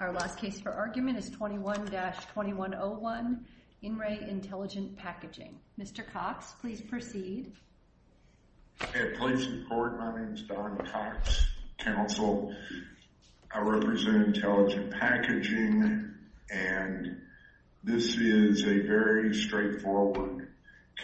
Our last case for argument is 21-2101, In Re Intelligent Packaging. Mr. Cox, please proceed. At police report, my name is Don Cox, counsel. I represent Intelligent Packaging, and this is a very straightforward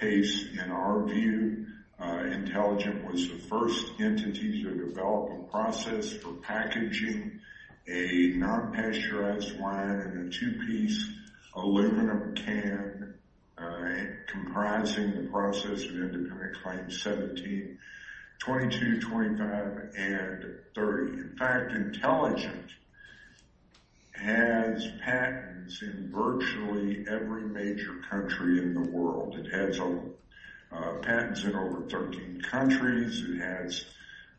case. In our view, Intelligent was the first entity to develop a process for packaging a non-pasteurized wine in a two-piece aluminum can, comprising the process of Independent Claim 17-2225 and 30. In fact, Intelligent has patents in virtually every major country in the world. It has patents in over 13 countries. It has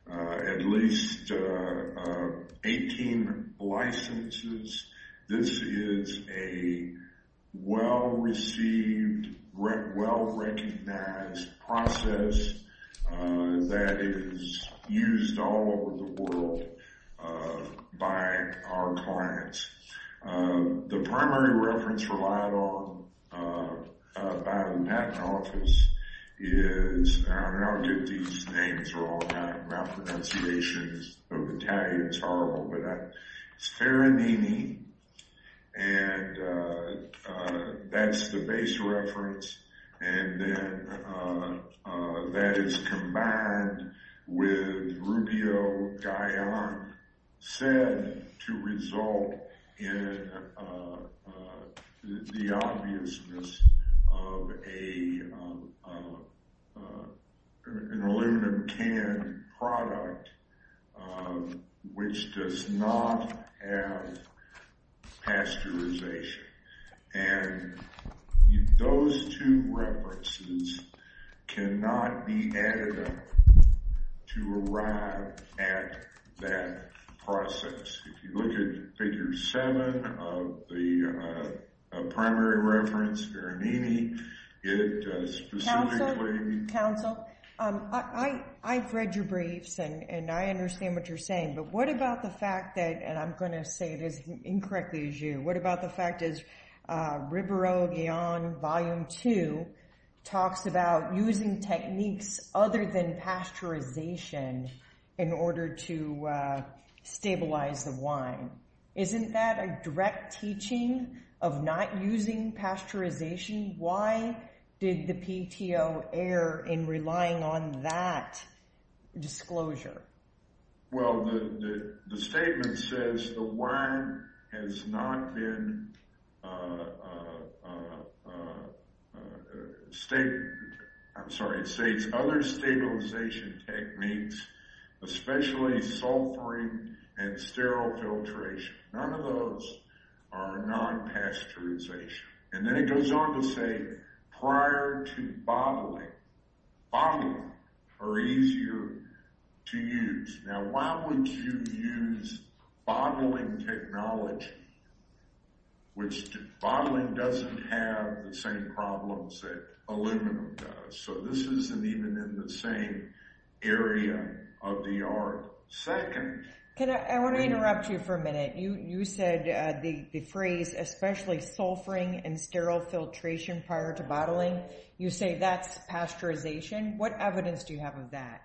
at least 18 licenses. This is a well-received, well-recognized process that is used all over the world by our clients. The primary reference relied on by the patent office is, and I don't know how to get these names wrong, my pronunciation of Italian is horrible, but it's Ferranini, and that's the base reference. And then that is combined with Rubio-Gallant, said to result in the obviousness of an aluminum can product, which does not have pasteurization. And those two references cannot be added up to arrive at that process. If you look at Figure 7 of the primary reference, Ferranini, it does specifically— Counsel, I've read your briefs and I understand what you're saying, but what about the fact that, and I'm going to say this incorrectly as you, what about the fact that Ribero-Gallant, Volume 2, talks about using techniques other than pasteurization in order to stabilize the wine. Isn't that a direct teaching of not using pasteurization? Why did the PTO err in relying on that disclosure? Well, the statement says the wine has not been— I'm sorry, it states other stabilization techniques, especially sulfuring and sterile filtration. None of those are non-pasteurization. And then it goes on to say prior to bottling, bottling are easier to use. Now, why would you use bottling technology, which bottling doesn't have the same problems that aluminum does? So this isn't even in the same area of the art. Second— I want to interrupt you for a minute. You said the phrase especially sulfuring and sterile filtration prior to bottling. You say that's pasteurization. What evidence do you have of that?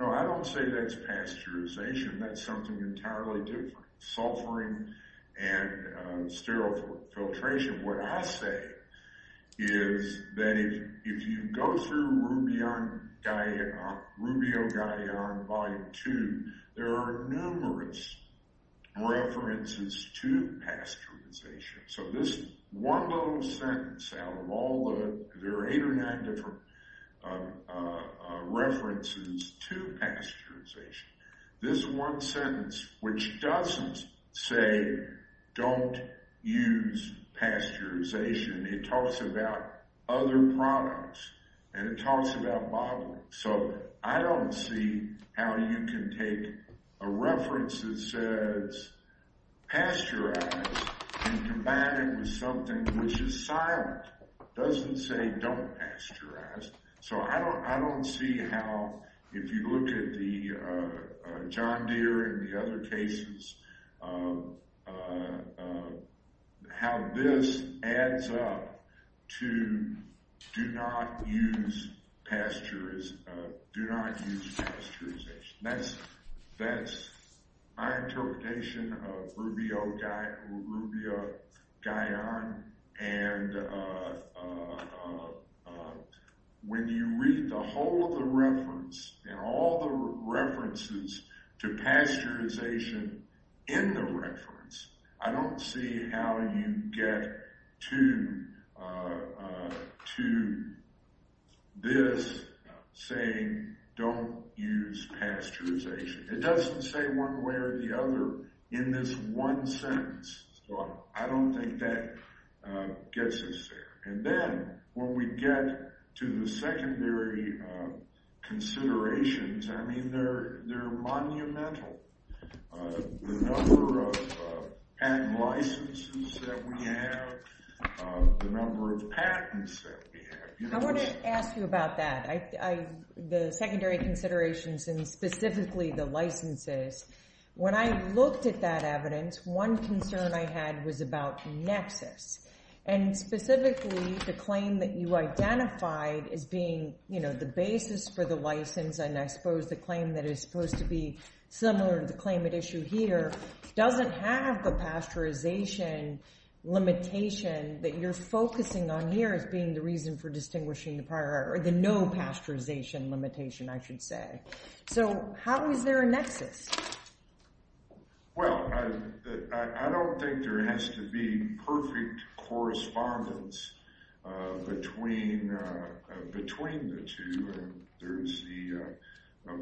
No, I don't say that's pasteurization. That's something entirely different. Sulfuring and sterile filtration. What I say is that if you go through Rubio-Gallant, Volume 2, there are numerous references to pasteurization. So this one little sentence out of all the— there are eight or nine different references to pasteurization. This one sentence, which doesn't say don't use pasteurization, it talks about other products, and it talks about bottling. So I don't see how you can take a reference that says pasteurize and combine it with something which is silent. It doesn't say don't pasteurize. So I don't see how, if you look at the John Deere and the other cases, how this adds up to do not use pasteurization. That's my interpretation of Rubio-Gallant. And when you read the whole of the reference and all the references to pasteurization in the reference, I don't see how you get to this saying don't use pasteurization. It doesn't say one way or the other in this one sentence. So I don't think that gets us there. And then when we get to the secondary considerations, I mean, they're monumental. The number of patent licenses that we have, the number of patents that we have. I want to ask you about that, the secondary considerations and specifically the licenses. When I looked at that evidence, one concern I had was about nexus, and specifically the claim that you identified as being the basis for the license and I suppose the claim that is supposed to be similar to the claim at issue here doesn't have the pasteurization limitation that you're focusing on here as being the reason for distinguishing the no pasteurization limitation, I should say. So how is there a nexus? Well, I don't think there has to be perfect correspondence between the two. There's the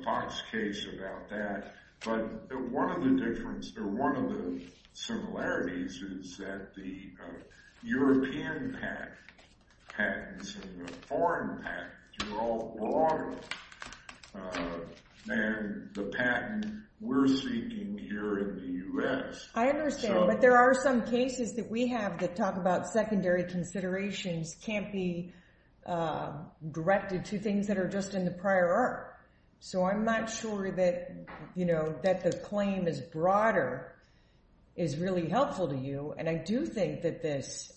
Fox case about that. But one of the similarities is that the European patents and the foreign patents are all broader than the patent we're seeking here in the U.S. I understand, but there are some cases that we have that talk about secondary considerations can't be directed to things that are just in the prior art. So I'm not sure that the claim is broader is really helpful to you, and I do think that this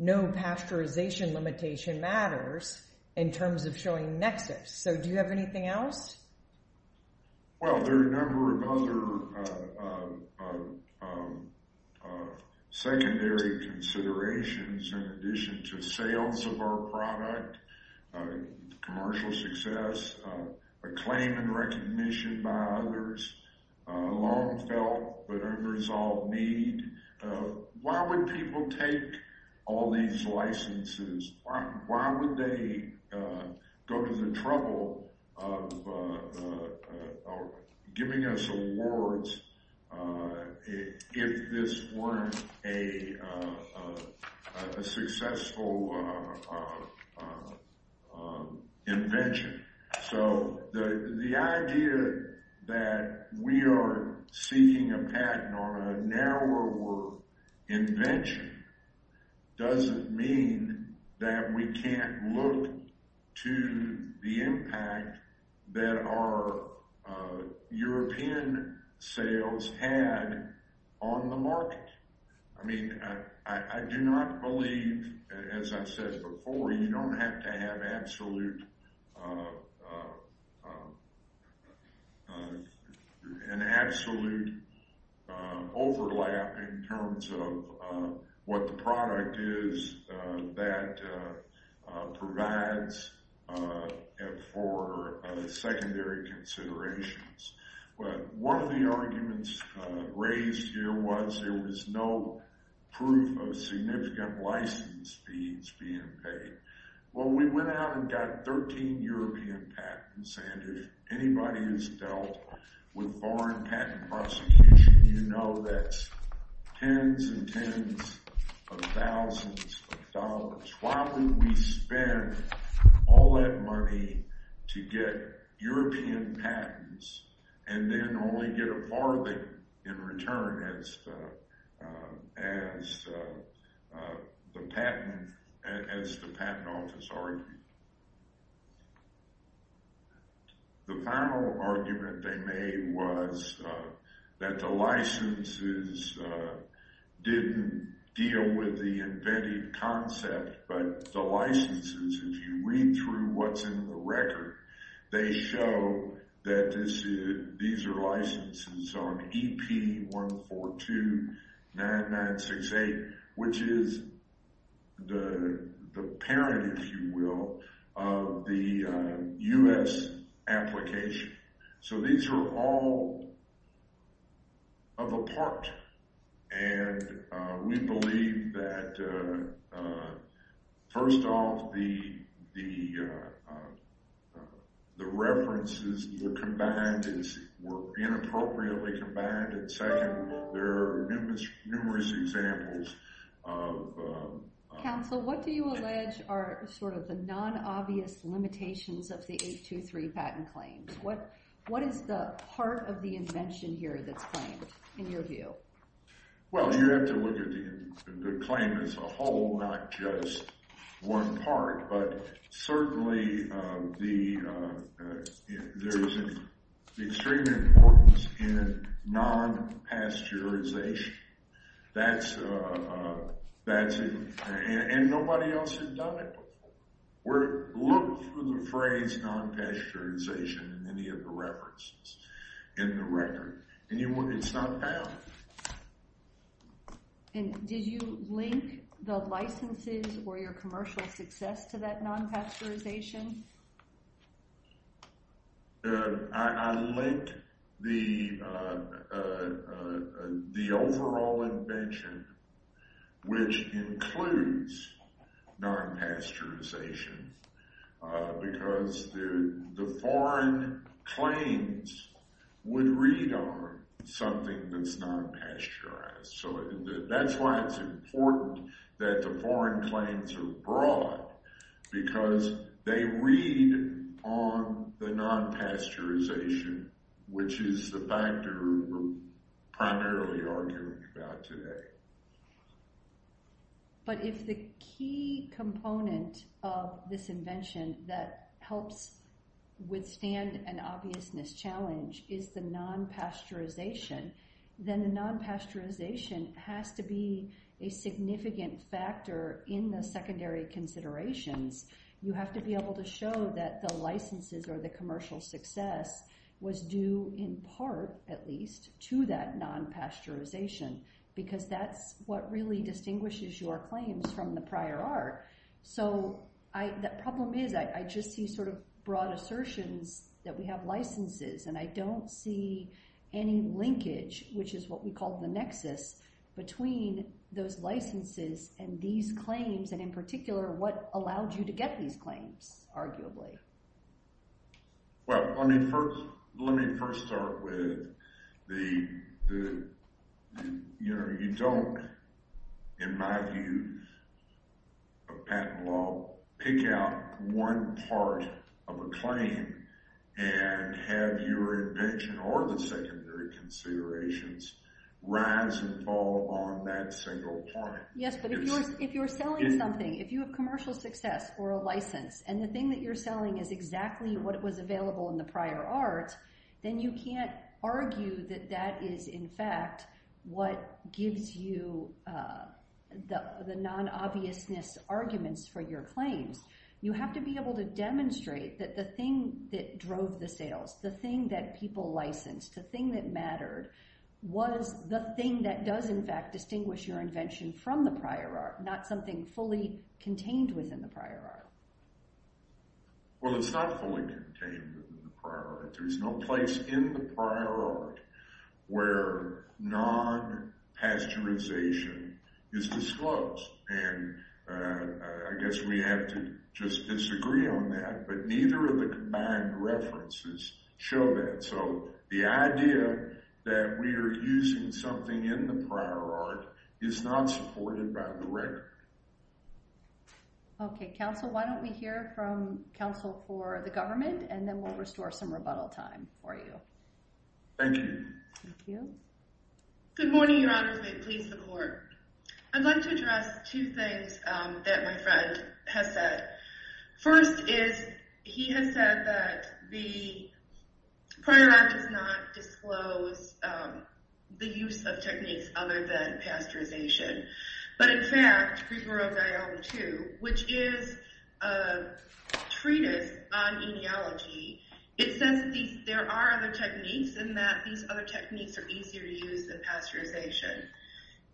no pasteurization limitation matters in terms of showing nexus. So do you have anything else? Well, there are a number of other secondary considerations in addition to sales of our product, commercial success, a claim and recognition by others, long felt but unresolved need. Why would people take all these licenses? Why would they go to the trouble of giving us awards if this weren't a successful invention? So the idea that we are seeking a patent on a narrower work invention doesn't mean that we can't look to the impact that our European sales had on the market. I do not believe, as I said before, you don't have to have an absolute overlap in terms of what the product is that provides for secondary considerations. One of the arguments raised here was there was no proof of significant license fees being paid. Well, we went out and got 13 European patents, and if anybody has dealt with foreign patent prosecution, you know that's tens and tens of thousands of dollars. Why would we spend all that money to get European patents and then only get a farthing in return as the patent office argued? The final argument they made was that the licenses didn't deal with the invented concept, but the licenses, if you read through what's in the record, they show that these are licenses on EP1429968, which is the parent, if you will, of the U.S. application. So these are all of a part, and we believe that, first off, the references that were combined were inappropriately combined, and second, there are numerous examples of— Well, you have to look at the claim as a whole, not just one part, but certainly there is an extreme importance in non-pasteurization. That's—and nobody else has done it. Look for the phrase non-pasteurization in any of the references in the record, and it's not found. And did you link the licenses or your commercial success to that non-pasteurization? I linked the overall invention, which includes non-pasteurization, because the foreign claims would read on something that's non-pasteurized. So that's why it's important that the foreign claims are broad, because they read on the non-pasteurization, which is the factor we're primarily arguing about today. But if the key component of this invention that helps withstand an obvious mischallenge is the non-pasteurization, then the non-pasteurization has to be a significant factor in the secondary considerations. You have to be able to show that the licenses or the commercial success was due in part, at least, to that non-pasteurization, because that's what really distinguishes your claims from the prior art. So the problem is I just see sort of broad assertions that we have licenses, and I don't see any linkage, which is what we call the nexus, between those licenses and these claims, and in particular what allowed you to get these claims, arguably. Well, let me first start with the, you know, you don't, in my view, of patent law, pick out one part of a claim and have your invention or the secondary considerations rise and fall on that single point. Yes, but if you're selling something, if you have commercial success or a license, and the thing that you're selling is exactly what was available in the prior art, then you can't argue that that is, in fact, what gives you the non-obviousness arguments for your claims. You have to be able to demonstrate that the thing that drove the sales, the thing that people licensed, the thing that mattered, was the thing that does, in fact, distinguish your invention from the prior art, not something fully contained within the prior art. Well, it's not fully contained in the prior art. There's no place in the prior art where non-pasteurization is disclosed, and I guess we have to just disagree on that, but neither of the combined references show that, so the idea that we are using something in the prior art is not supported by the record. Okay, counsel, why don't we hear from counsel for the government, and then we'll restore some rebuttal time for you. Thank you. Thank you. Good morning, Your Honor. Please support. I'd like to address two things that my friend has said. First is he has said that the prior art does not disclose the use of techniques other than pasteurization, but, in fact, Griswold Volume 2, which is a treatise on etiology, it says there are other techniques and that these other techniques are easier to use than pasteurization.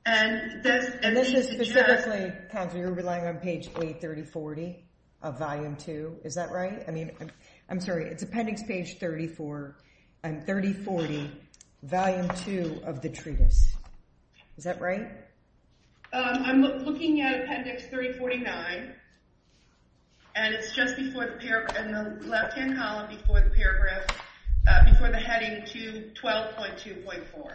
And this is specifically, counsel, you're relying on page A3040 of Volume 2. Is that right? I mean, I'm sorry. It's appendix page 3040, Volume 2 of the treatise. Is that right? I'm looking at appendix 3049, and it's just in the left-hand column before the heading 12.2.4.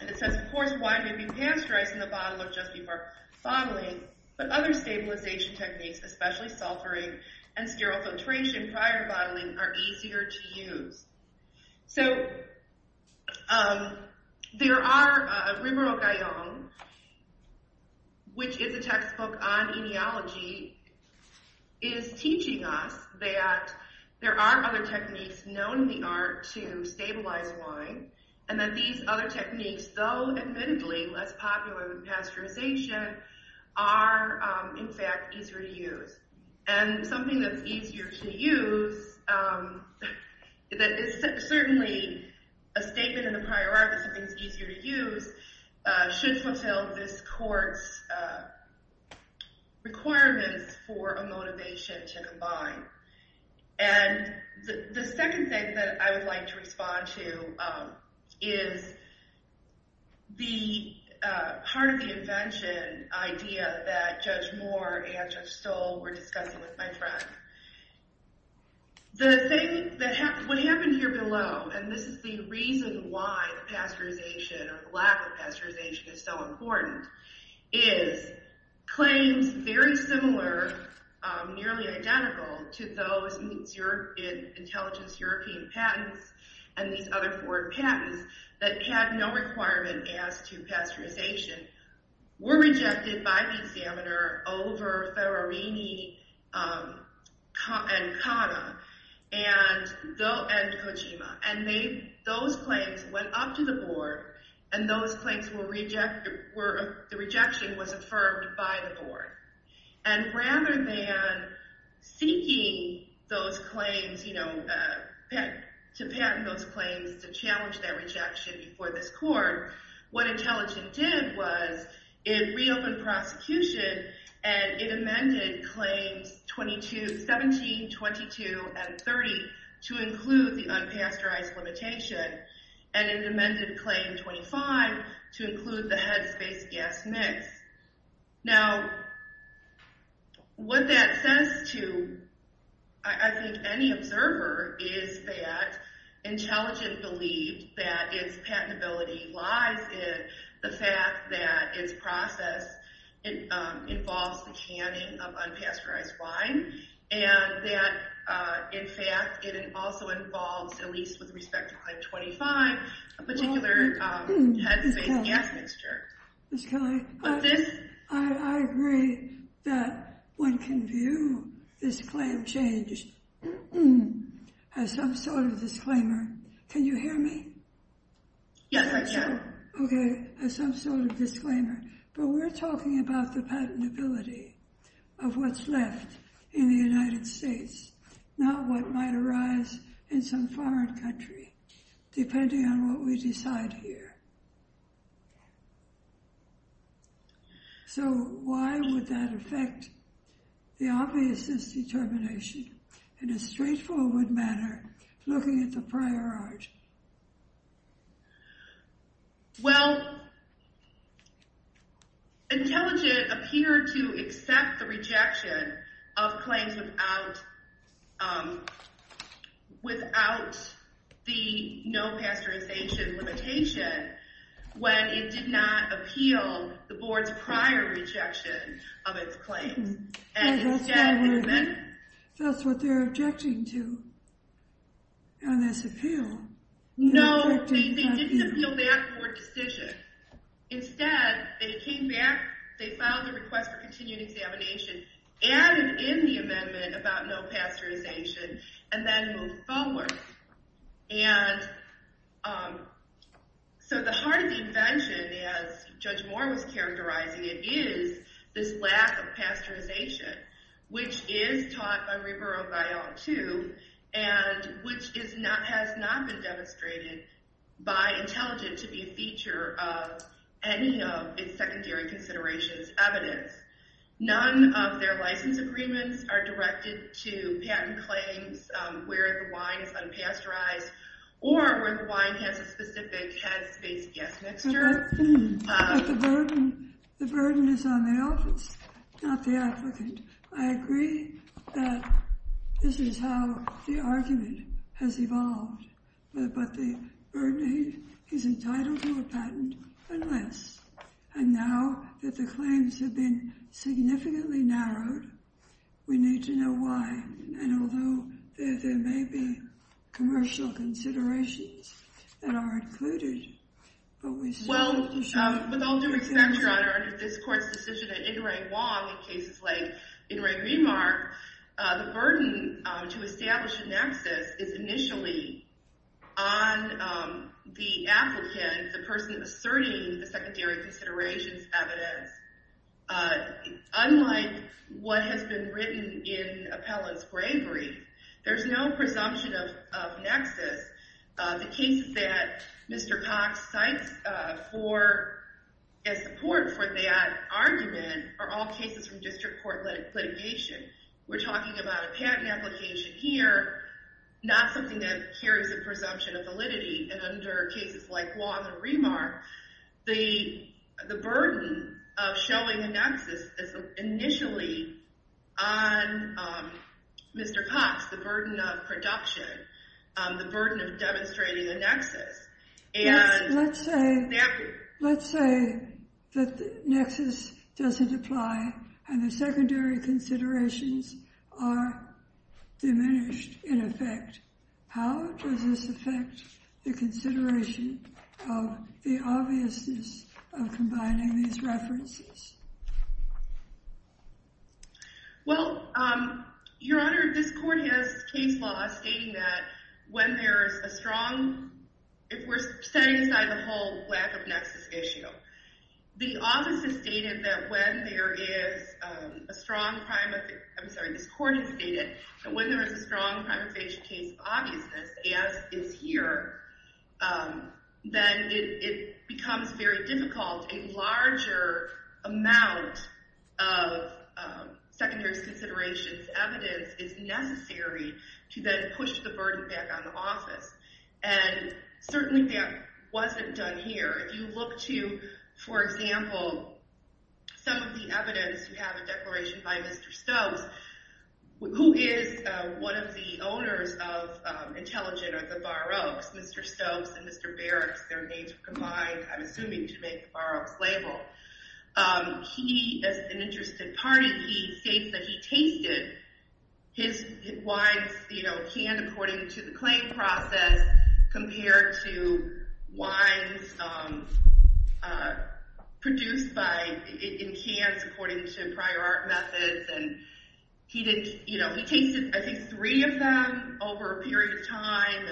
And it says, of course, wine may be pasteurized in the bottle or just before bottling, but other stabilization techniques, especially sulfuring and sterile filtration prior bottling, are easier to use. So there are Rimuro Gayon, which is a textbook on etiology, is teaching us that there are other techniques known in the art to stabilize wine, and that these other techniques, though admittedly less popular than pasteurization, are, in fact, easier to use. And something that's easier to use, that is certainly a statement in the prior art that something's easier to use, should fulfill this court's requirements for a motivation to combine. And the second thing that I would like to respond to is part of the invention idea that Judge Moore and Judge Stoll were discussing with my friend. What happened here below, and this is the reason why pasteurization, or the lack of pasteurization is so important, is claims very similar, nearly identical, to those in intelligence European patents and these other foreign patents that had no requirement as to pasteurization were rejected by the examiner over Ferrarini and Cotta and Kojima. And those claims went up to the board, and the rejection was affirmed by the board. And rather than seeking those claims, to patent those claims to challenge that rejection before this court, what intelligence did was it reopened prosecution and it amended claims 17, 22, and 30 to include the unpasteurized limitation, and it amended claim 25 to include the headspace gas mix. Now, what that says to, I think, any observer is that intelligence believes that its patentability lies in the fact that its process involves the canning of unpasteurized wine and that, in fact, it also involves, at least with respect to claim 25, a particular headspace gas mixture. Ms. Kelly? What's this? I agree that one can view this claim change as some sort of disclaimer. Can you hear me? Yes, I can. Okay. As some sort of disclaimer. But we're talking about the patentability of what's left in the United States, not what might arise in some foreign country, depending on what we decide here. So why would that affect the obviousness determination in a straightforward manner looking at the prior art? Well, intelligence appeared to accept the rejection of claims without the no-pasteurization limitation when it did not appeal the board's prior rejection of its claims. That's what they're objecting to on this appeal. No, they didn't appeal that board decision. Instead, they came back, they filed a request for continued examination, added in the amendment about no pasteurization, and then moved forward. And so the heart of the invention, as Judge Moore was characterizing it, is this lack of pasteurization, which is taught by Rebar-O'Brien, too, and which has not been demonstrated by intelligence to be a feature of any of its secondary considerations evidence. None of their license agreements are directed to patent claims where the wine is unpasteurized or where the wine has a specific The burden is on the office, not the applicant. I agree that this is how the argument has evolved, but the burden is entitled to a patent unless. And now that the claims have been significantly narrowed, we need to know why. And although there may be commercial considerations that are included, but we still need to know. Well, with all due respect, Your Honor, under this court's decision that Inouye Wong, in cases like Inouye Rebar, the burden to establish a nexus is initially on the applicant, the person asserting the secondary considerations evidence. Unlike what has been written in appellant's bravery, there's no presumption of nexus. The cases that Mr. Cox cites as support for that argument are all cases from district court litigation. We're talking about a patent application here, not something that carries a presumption of validity. And under cases like Wong and Rebar, the burden of showing a nexus is initially on Mr. Cox, the burden of production, the burden of demonstrating a nexus. Let's say that the nexus doesn't apply and the secondary considerations are diminished in effect. How does this affect the consideration of the obviousness of combining these references? Well, Your Honor, this court has case law stating that when there is a strong... If we're setting aside the whole lack of nexus issue, the office has stated that when there is a strong prime... I'm sorry, this court has stated that when there is a strong case of obviousness, as is here, then it becomes very difficult. A larger amount of secondary considerations evidence is necessary to then push the burden back on the office. And certainly that wasn't done here. If you look to, for example, some of the evidence you have in Declaration by Mr. Stokes, who is one of the owners of Intelligent or the Bar Oaks, Mr. Stokes and Mr. Barracks, their names are combined, I'm assuming, to make the Bar Oaks label. He, as an interested party, he states that he tasted his wines, you know, canned according to the claim process compared to wines produced in cans according to prior art methods. And he tasted, I think, three of them over a period of time.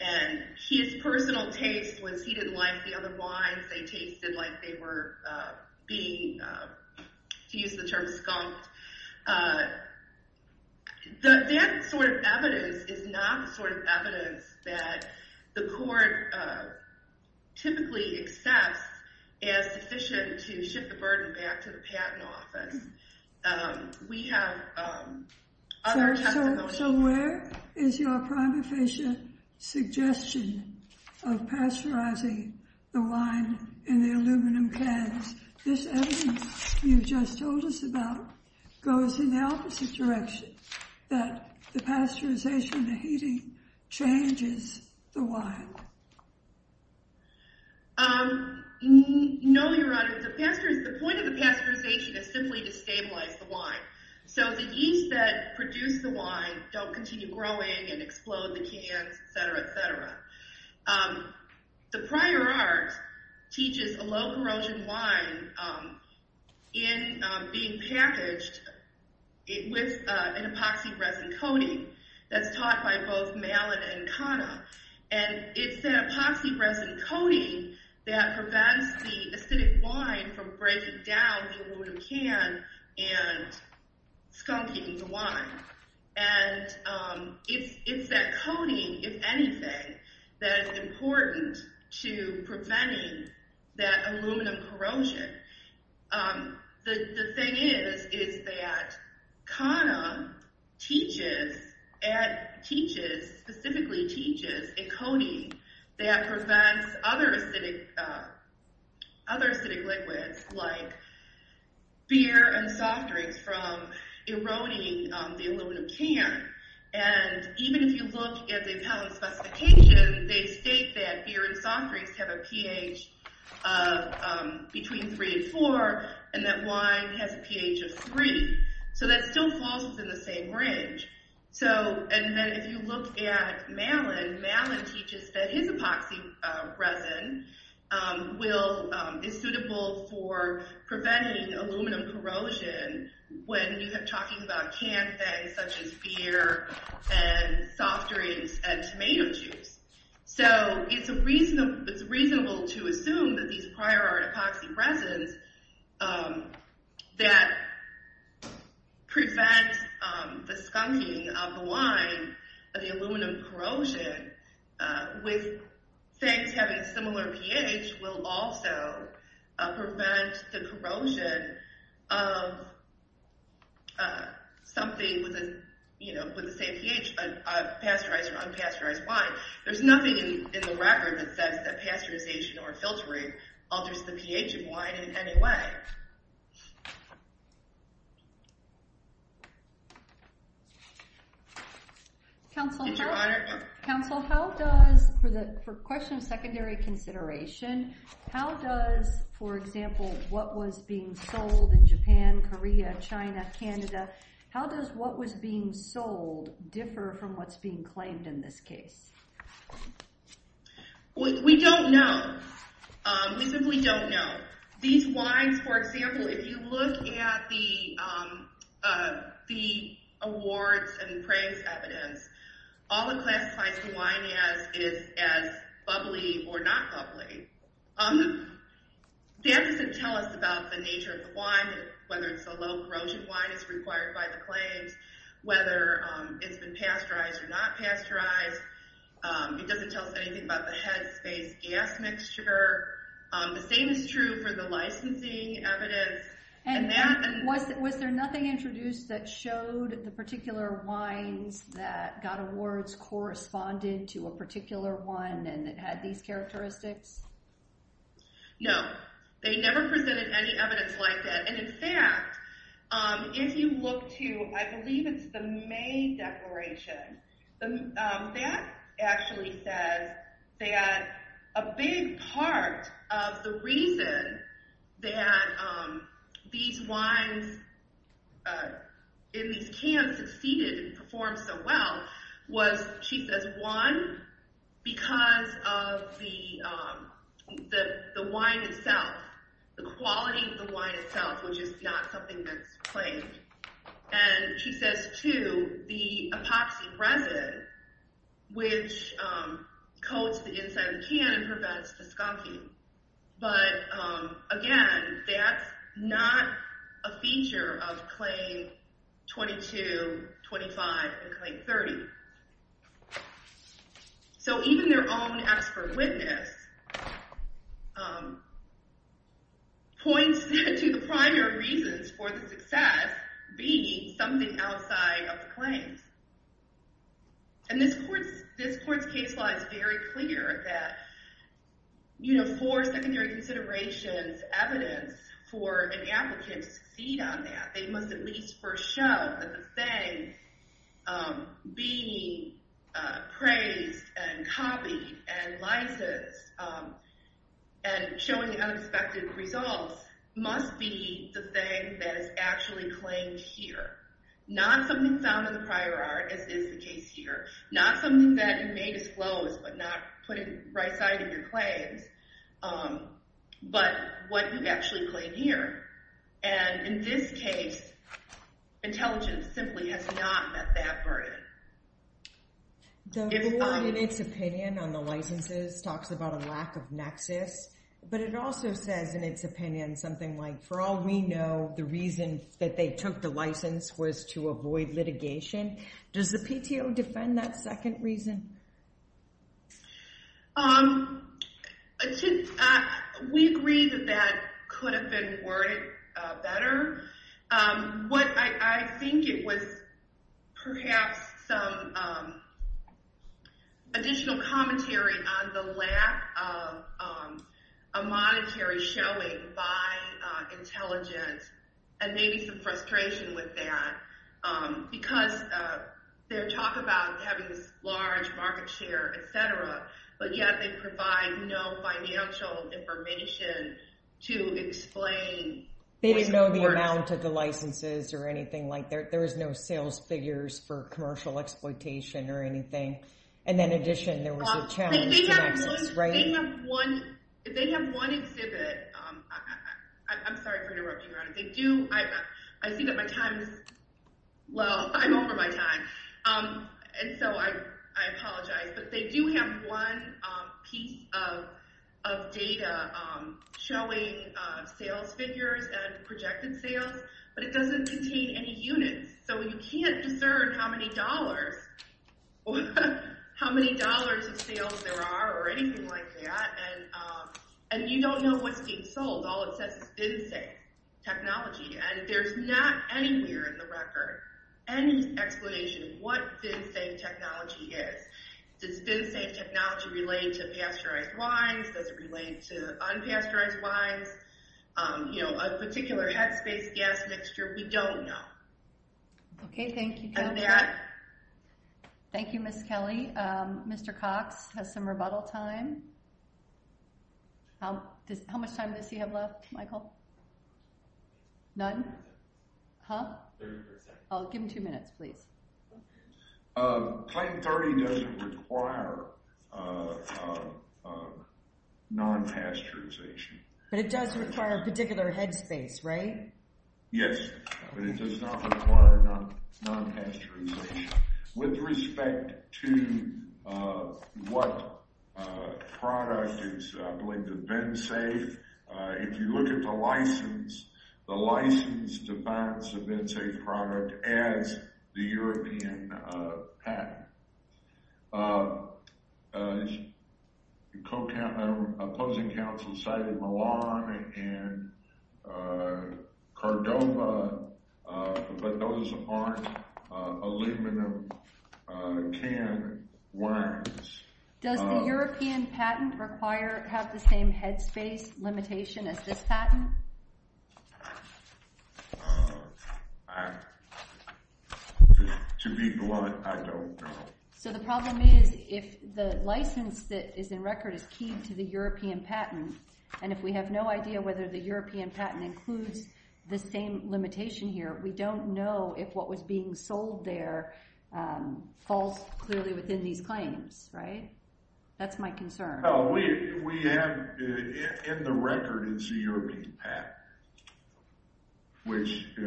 And his personal taste was he didn't like the other wines. They tasted like they were being, to use the term, skunked. That sort of evidence is not the sort of evidence that the court typically accepts as sufficient to shift the burden back to the patent office. We have other testimonies. So where is your prime efficient suggestion of pasteurizing the wine in the aluminum cans? This evidence you just told us about goes in the opposite direction, that the pasteurization, the heating, changes the wine. No, Your Honor, the point of the pasteurization is simply to stabilize the wine. So the yeast that produce the wine don't continue growing and explode the cans, et cetera, et cetera. The prior art teaches a low-corrosion wine in being packaged with an epoxy resin coating that's taught by both Malin and Kana. And it's that epoxy resin coating that prevents the acidic wine from breaking down the aluminum can and skunking the wine. And it's that coating, if anything, that is important to preventing that aluminum corrosion. The thing is, is that Kana teaches, specifically teaches, a coating that prevents other acidic liquids like beer and soft drinks from eroding the aluminum can. And even if you look at the appellant specification, they state that beer and soft drinks have a pH between three and four, and that wine has a pH of three. So that still falls within the same range. And then if you look at Malin, Malin teaches that his epoxy resin is suitable for preventing aluminum corrosion when you have talking about canned things such as beer and soft drinks and tomato juice. So it's reasonable to assume that these prior art epoxy resins that prevent the skunking of the wine, of the aluminum corrosion, with things having a similar pH will also prevent the corrosion of something with the same pH, pasteurized or unpasteurized wine. There's nothing in the record that says that pasteurization or filtering alters the pH of wine in any way. Did Your Honor? Counsel, how does, for the question of secondary consideration, how does, for example, what was being sold in Japan, Korea, China, Canada, how does what was being sold differ from what's being claimed in this case? We don't know. We simply don't know. These wines, for example, if you look at the awards and praise evidence, all it classifies the wine as is as bubbly or not bubbly. That doesn't tell us about the nature of the wine, whether it's a low-corrosion wine, it's required by the claims, whether it's been pasteurized or not pasteurized. It doesn't tell us anything about the head space gas mixture. The same is true for the licensing evidence. And was there nothing introduced that showed the particular wines that got awards corresponded to a particular one and it had these characteristics? No. They never presented any evidence like that. And in fact, if you look to, I believe it's the May Declaration, that actually says that a big part of the reason that these wines in these cans succeeded and performed so well was, she says, one, because of the wine itself, the quality of the wine itself, which is not something that's claimed. And she says, two, the epoxy resin, which coats the inside of the can and prevents the skunking. But again, that's not a feature of Claim 22, 25, and Claim 30. So even their own expert witness points to the primary reasons for the success being something outside of the claims. And this court's case law is very clear that for secondary considerations, evidence for an applicant to succeed on that, they must at least first show that the thing being praised and copied and licensed and showing unexpected results must be the thing that is actually claimed here, not something found in the prior art, as is the case here, not something that you may disclose but not put it right side of your claims, but what you actually claim here. And in this case, intelligence simply has not met that burden. The law in its opinion on the licenses talks about a lack of nexus, but it also says in its opinion something like, for all we know, the reason that they took the license was to avoid litigation. Does the PTO defend that second reason? We agree that that could have been worded better. What I think it was perhaps some additional commentary on the lack of a monetary showing by intelligence and maybe some frustration with that because they talk about having this large market share, et cetera, but yet they provide no financial information to explain. They didn't know the amount of the licenses or anything like that. There was no sales figures for commercial exploitation or anything. And in addition, there was a challenge to access, right? They have one exhibit. I'm sorry for interrupting, Your Honor. I see that my time is... Well, I'm over my time. And so I apologize. But they do have one piece of data showing sales figures and projected sales, but it doesn't contain any units. So you can't discern how many dollars of sales there are or anything like that. And you don't know what's being sold. All it says is VINSAFE technology. And there's not anywhere in the record any explanation of what VINSAFE technology is. Does VINSAFE technology relate to pasteurized wines? Does it relate to unpasteurized wines? You know, a particular headspace gas mixture? We don't know. Okay, thank you. Thank you, Ms. Kelly. Mr. Cox has some rebuttal time. How much time does he have left, Michael? None? Huh? Give him two minutes, please. Claim 30 doesn't require non-pasteurization. But it does require a particular headspace, right? Yes, but it does not require non-pasteurization. With respect to what product is linked to VINSAFE, if you look at the license, it defines the VINSAFE product as the European patent. Opposing counsel cited Milan and Cordova, but those aren't aluminum can wines. Does the European patent have the same headspace limitation as this patent? To be blunt, I don't know. So the problem is, if the license that is in record is keyed to the European patent, and if we have no idea whether the European patent includes the same limitation here, we don't know if what was being sold there falls clearly within these claims, right? That's my concern. In the record, it's the European patent, which we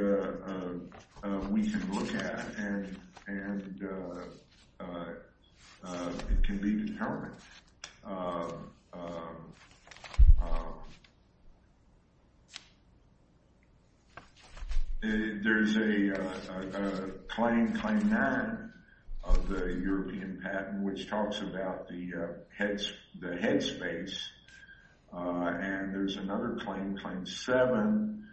can look at, and it can be determined. There's a claim, claim 9 of the European patent, which talks about the headspace, and there's another claim, claim 7,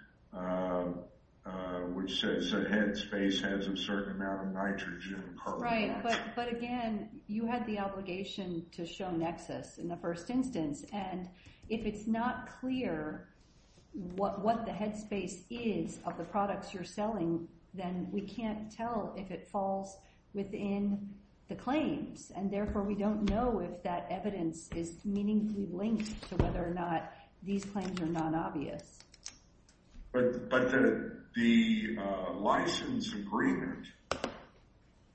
which says the headspace has a certain amount of nitrogen. Right, but again, you had the obligation to show Nexus in the first instance, and if it's not clear then we can't tell if it falls within the claims, and therefore we don't know if that evidence is meaningfully linked to whether or not these claims are non-obvious. But the license agreement,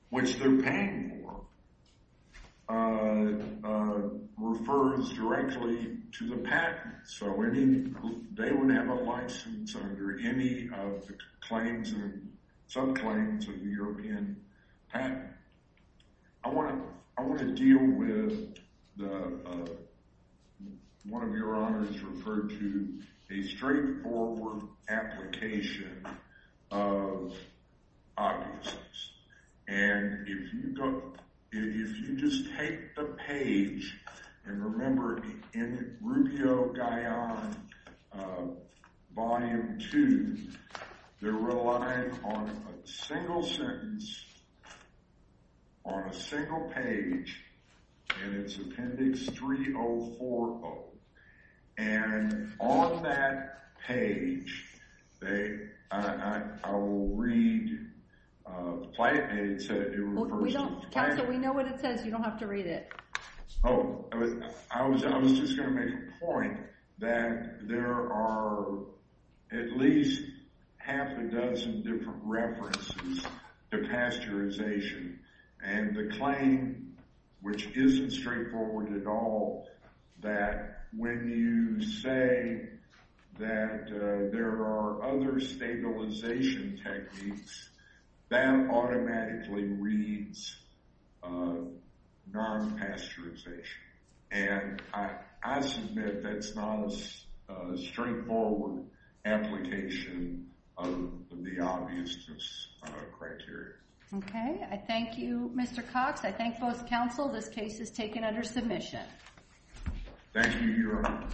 which they're paying for, refers directly to the patent, so they wouldn't have a license under any of the claims and sub-claims of the European patent. I want to deal with one of your honors referred to, a straightforward application of obviousness. And if you just take the page, and remember, in Rubio-Gaian, Volume 2, they're relying on a single sentence, on a single page, and it's Appendix 3040. And on that page, I will read, and it said in reverse, Counsel, we know what it says, you don't have to read it. Oh, I was just going to make a point that there are at least half a dozen different references to pasteurization, and the claim, which isn't straightforward at all, that when you say that there are other stabilization techniques, that automatically reads non-pasteurization. And I submit that's not a straightforward application of the obviousness criteria. Okay, I thank you, Mr. Cox. I thank both counsel. This case is taken under submission. Thank you, Your Honor.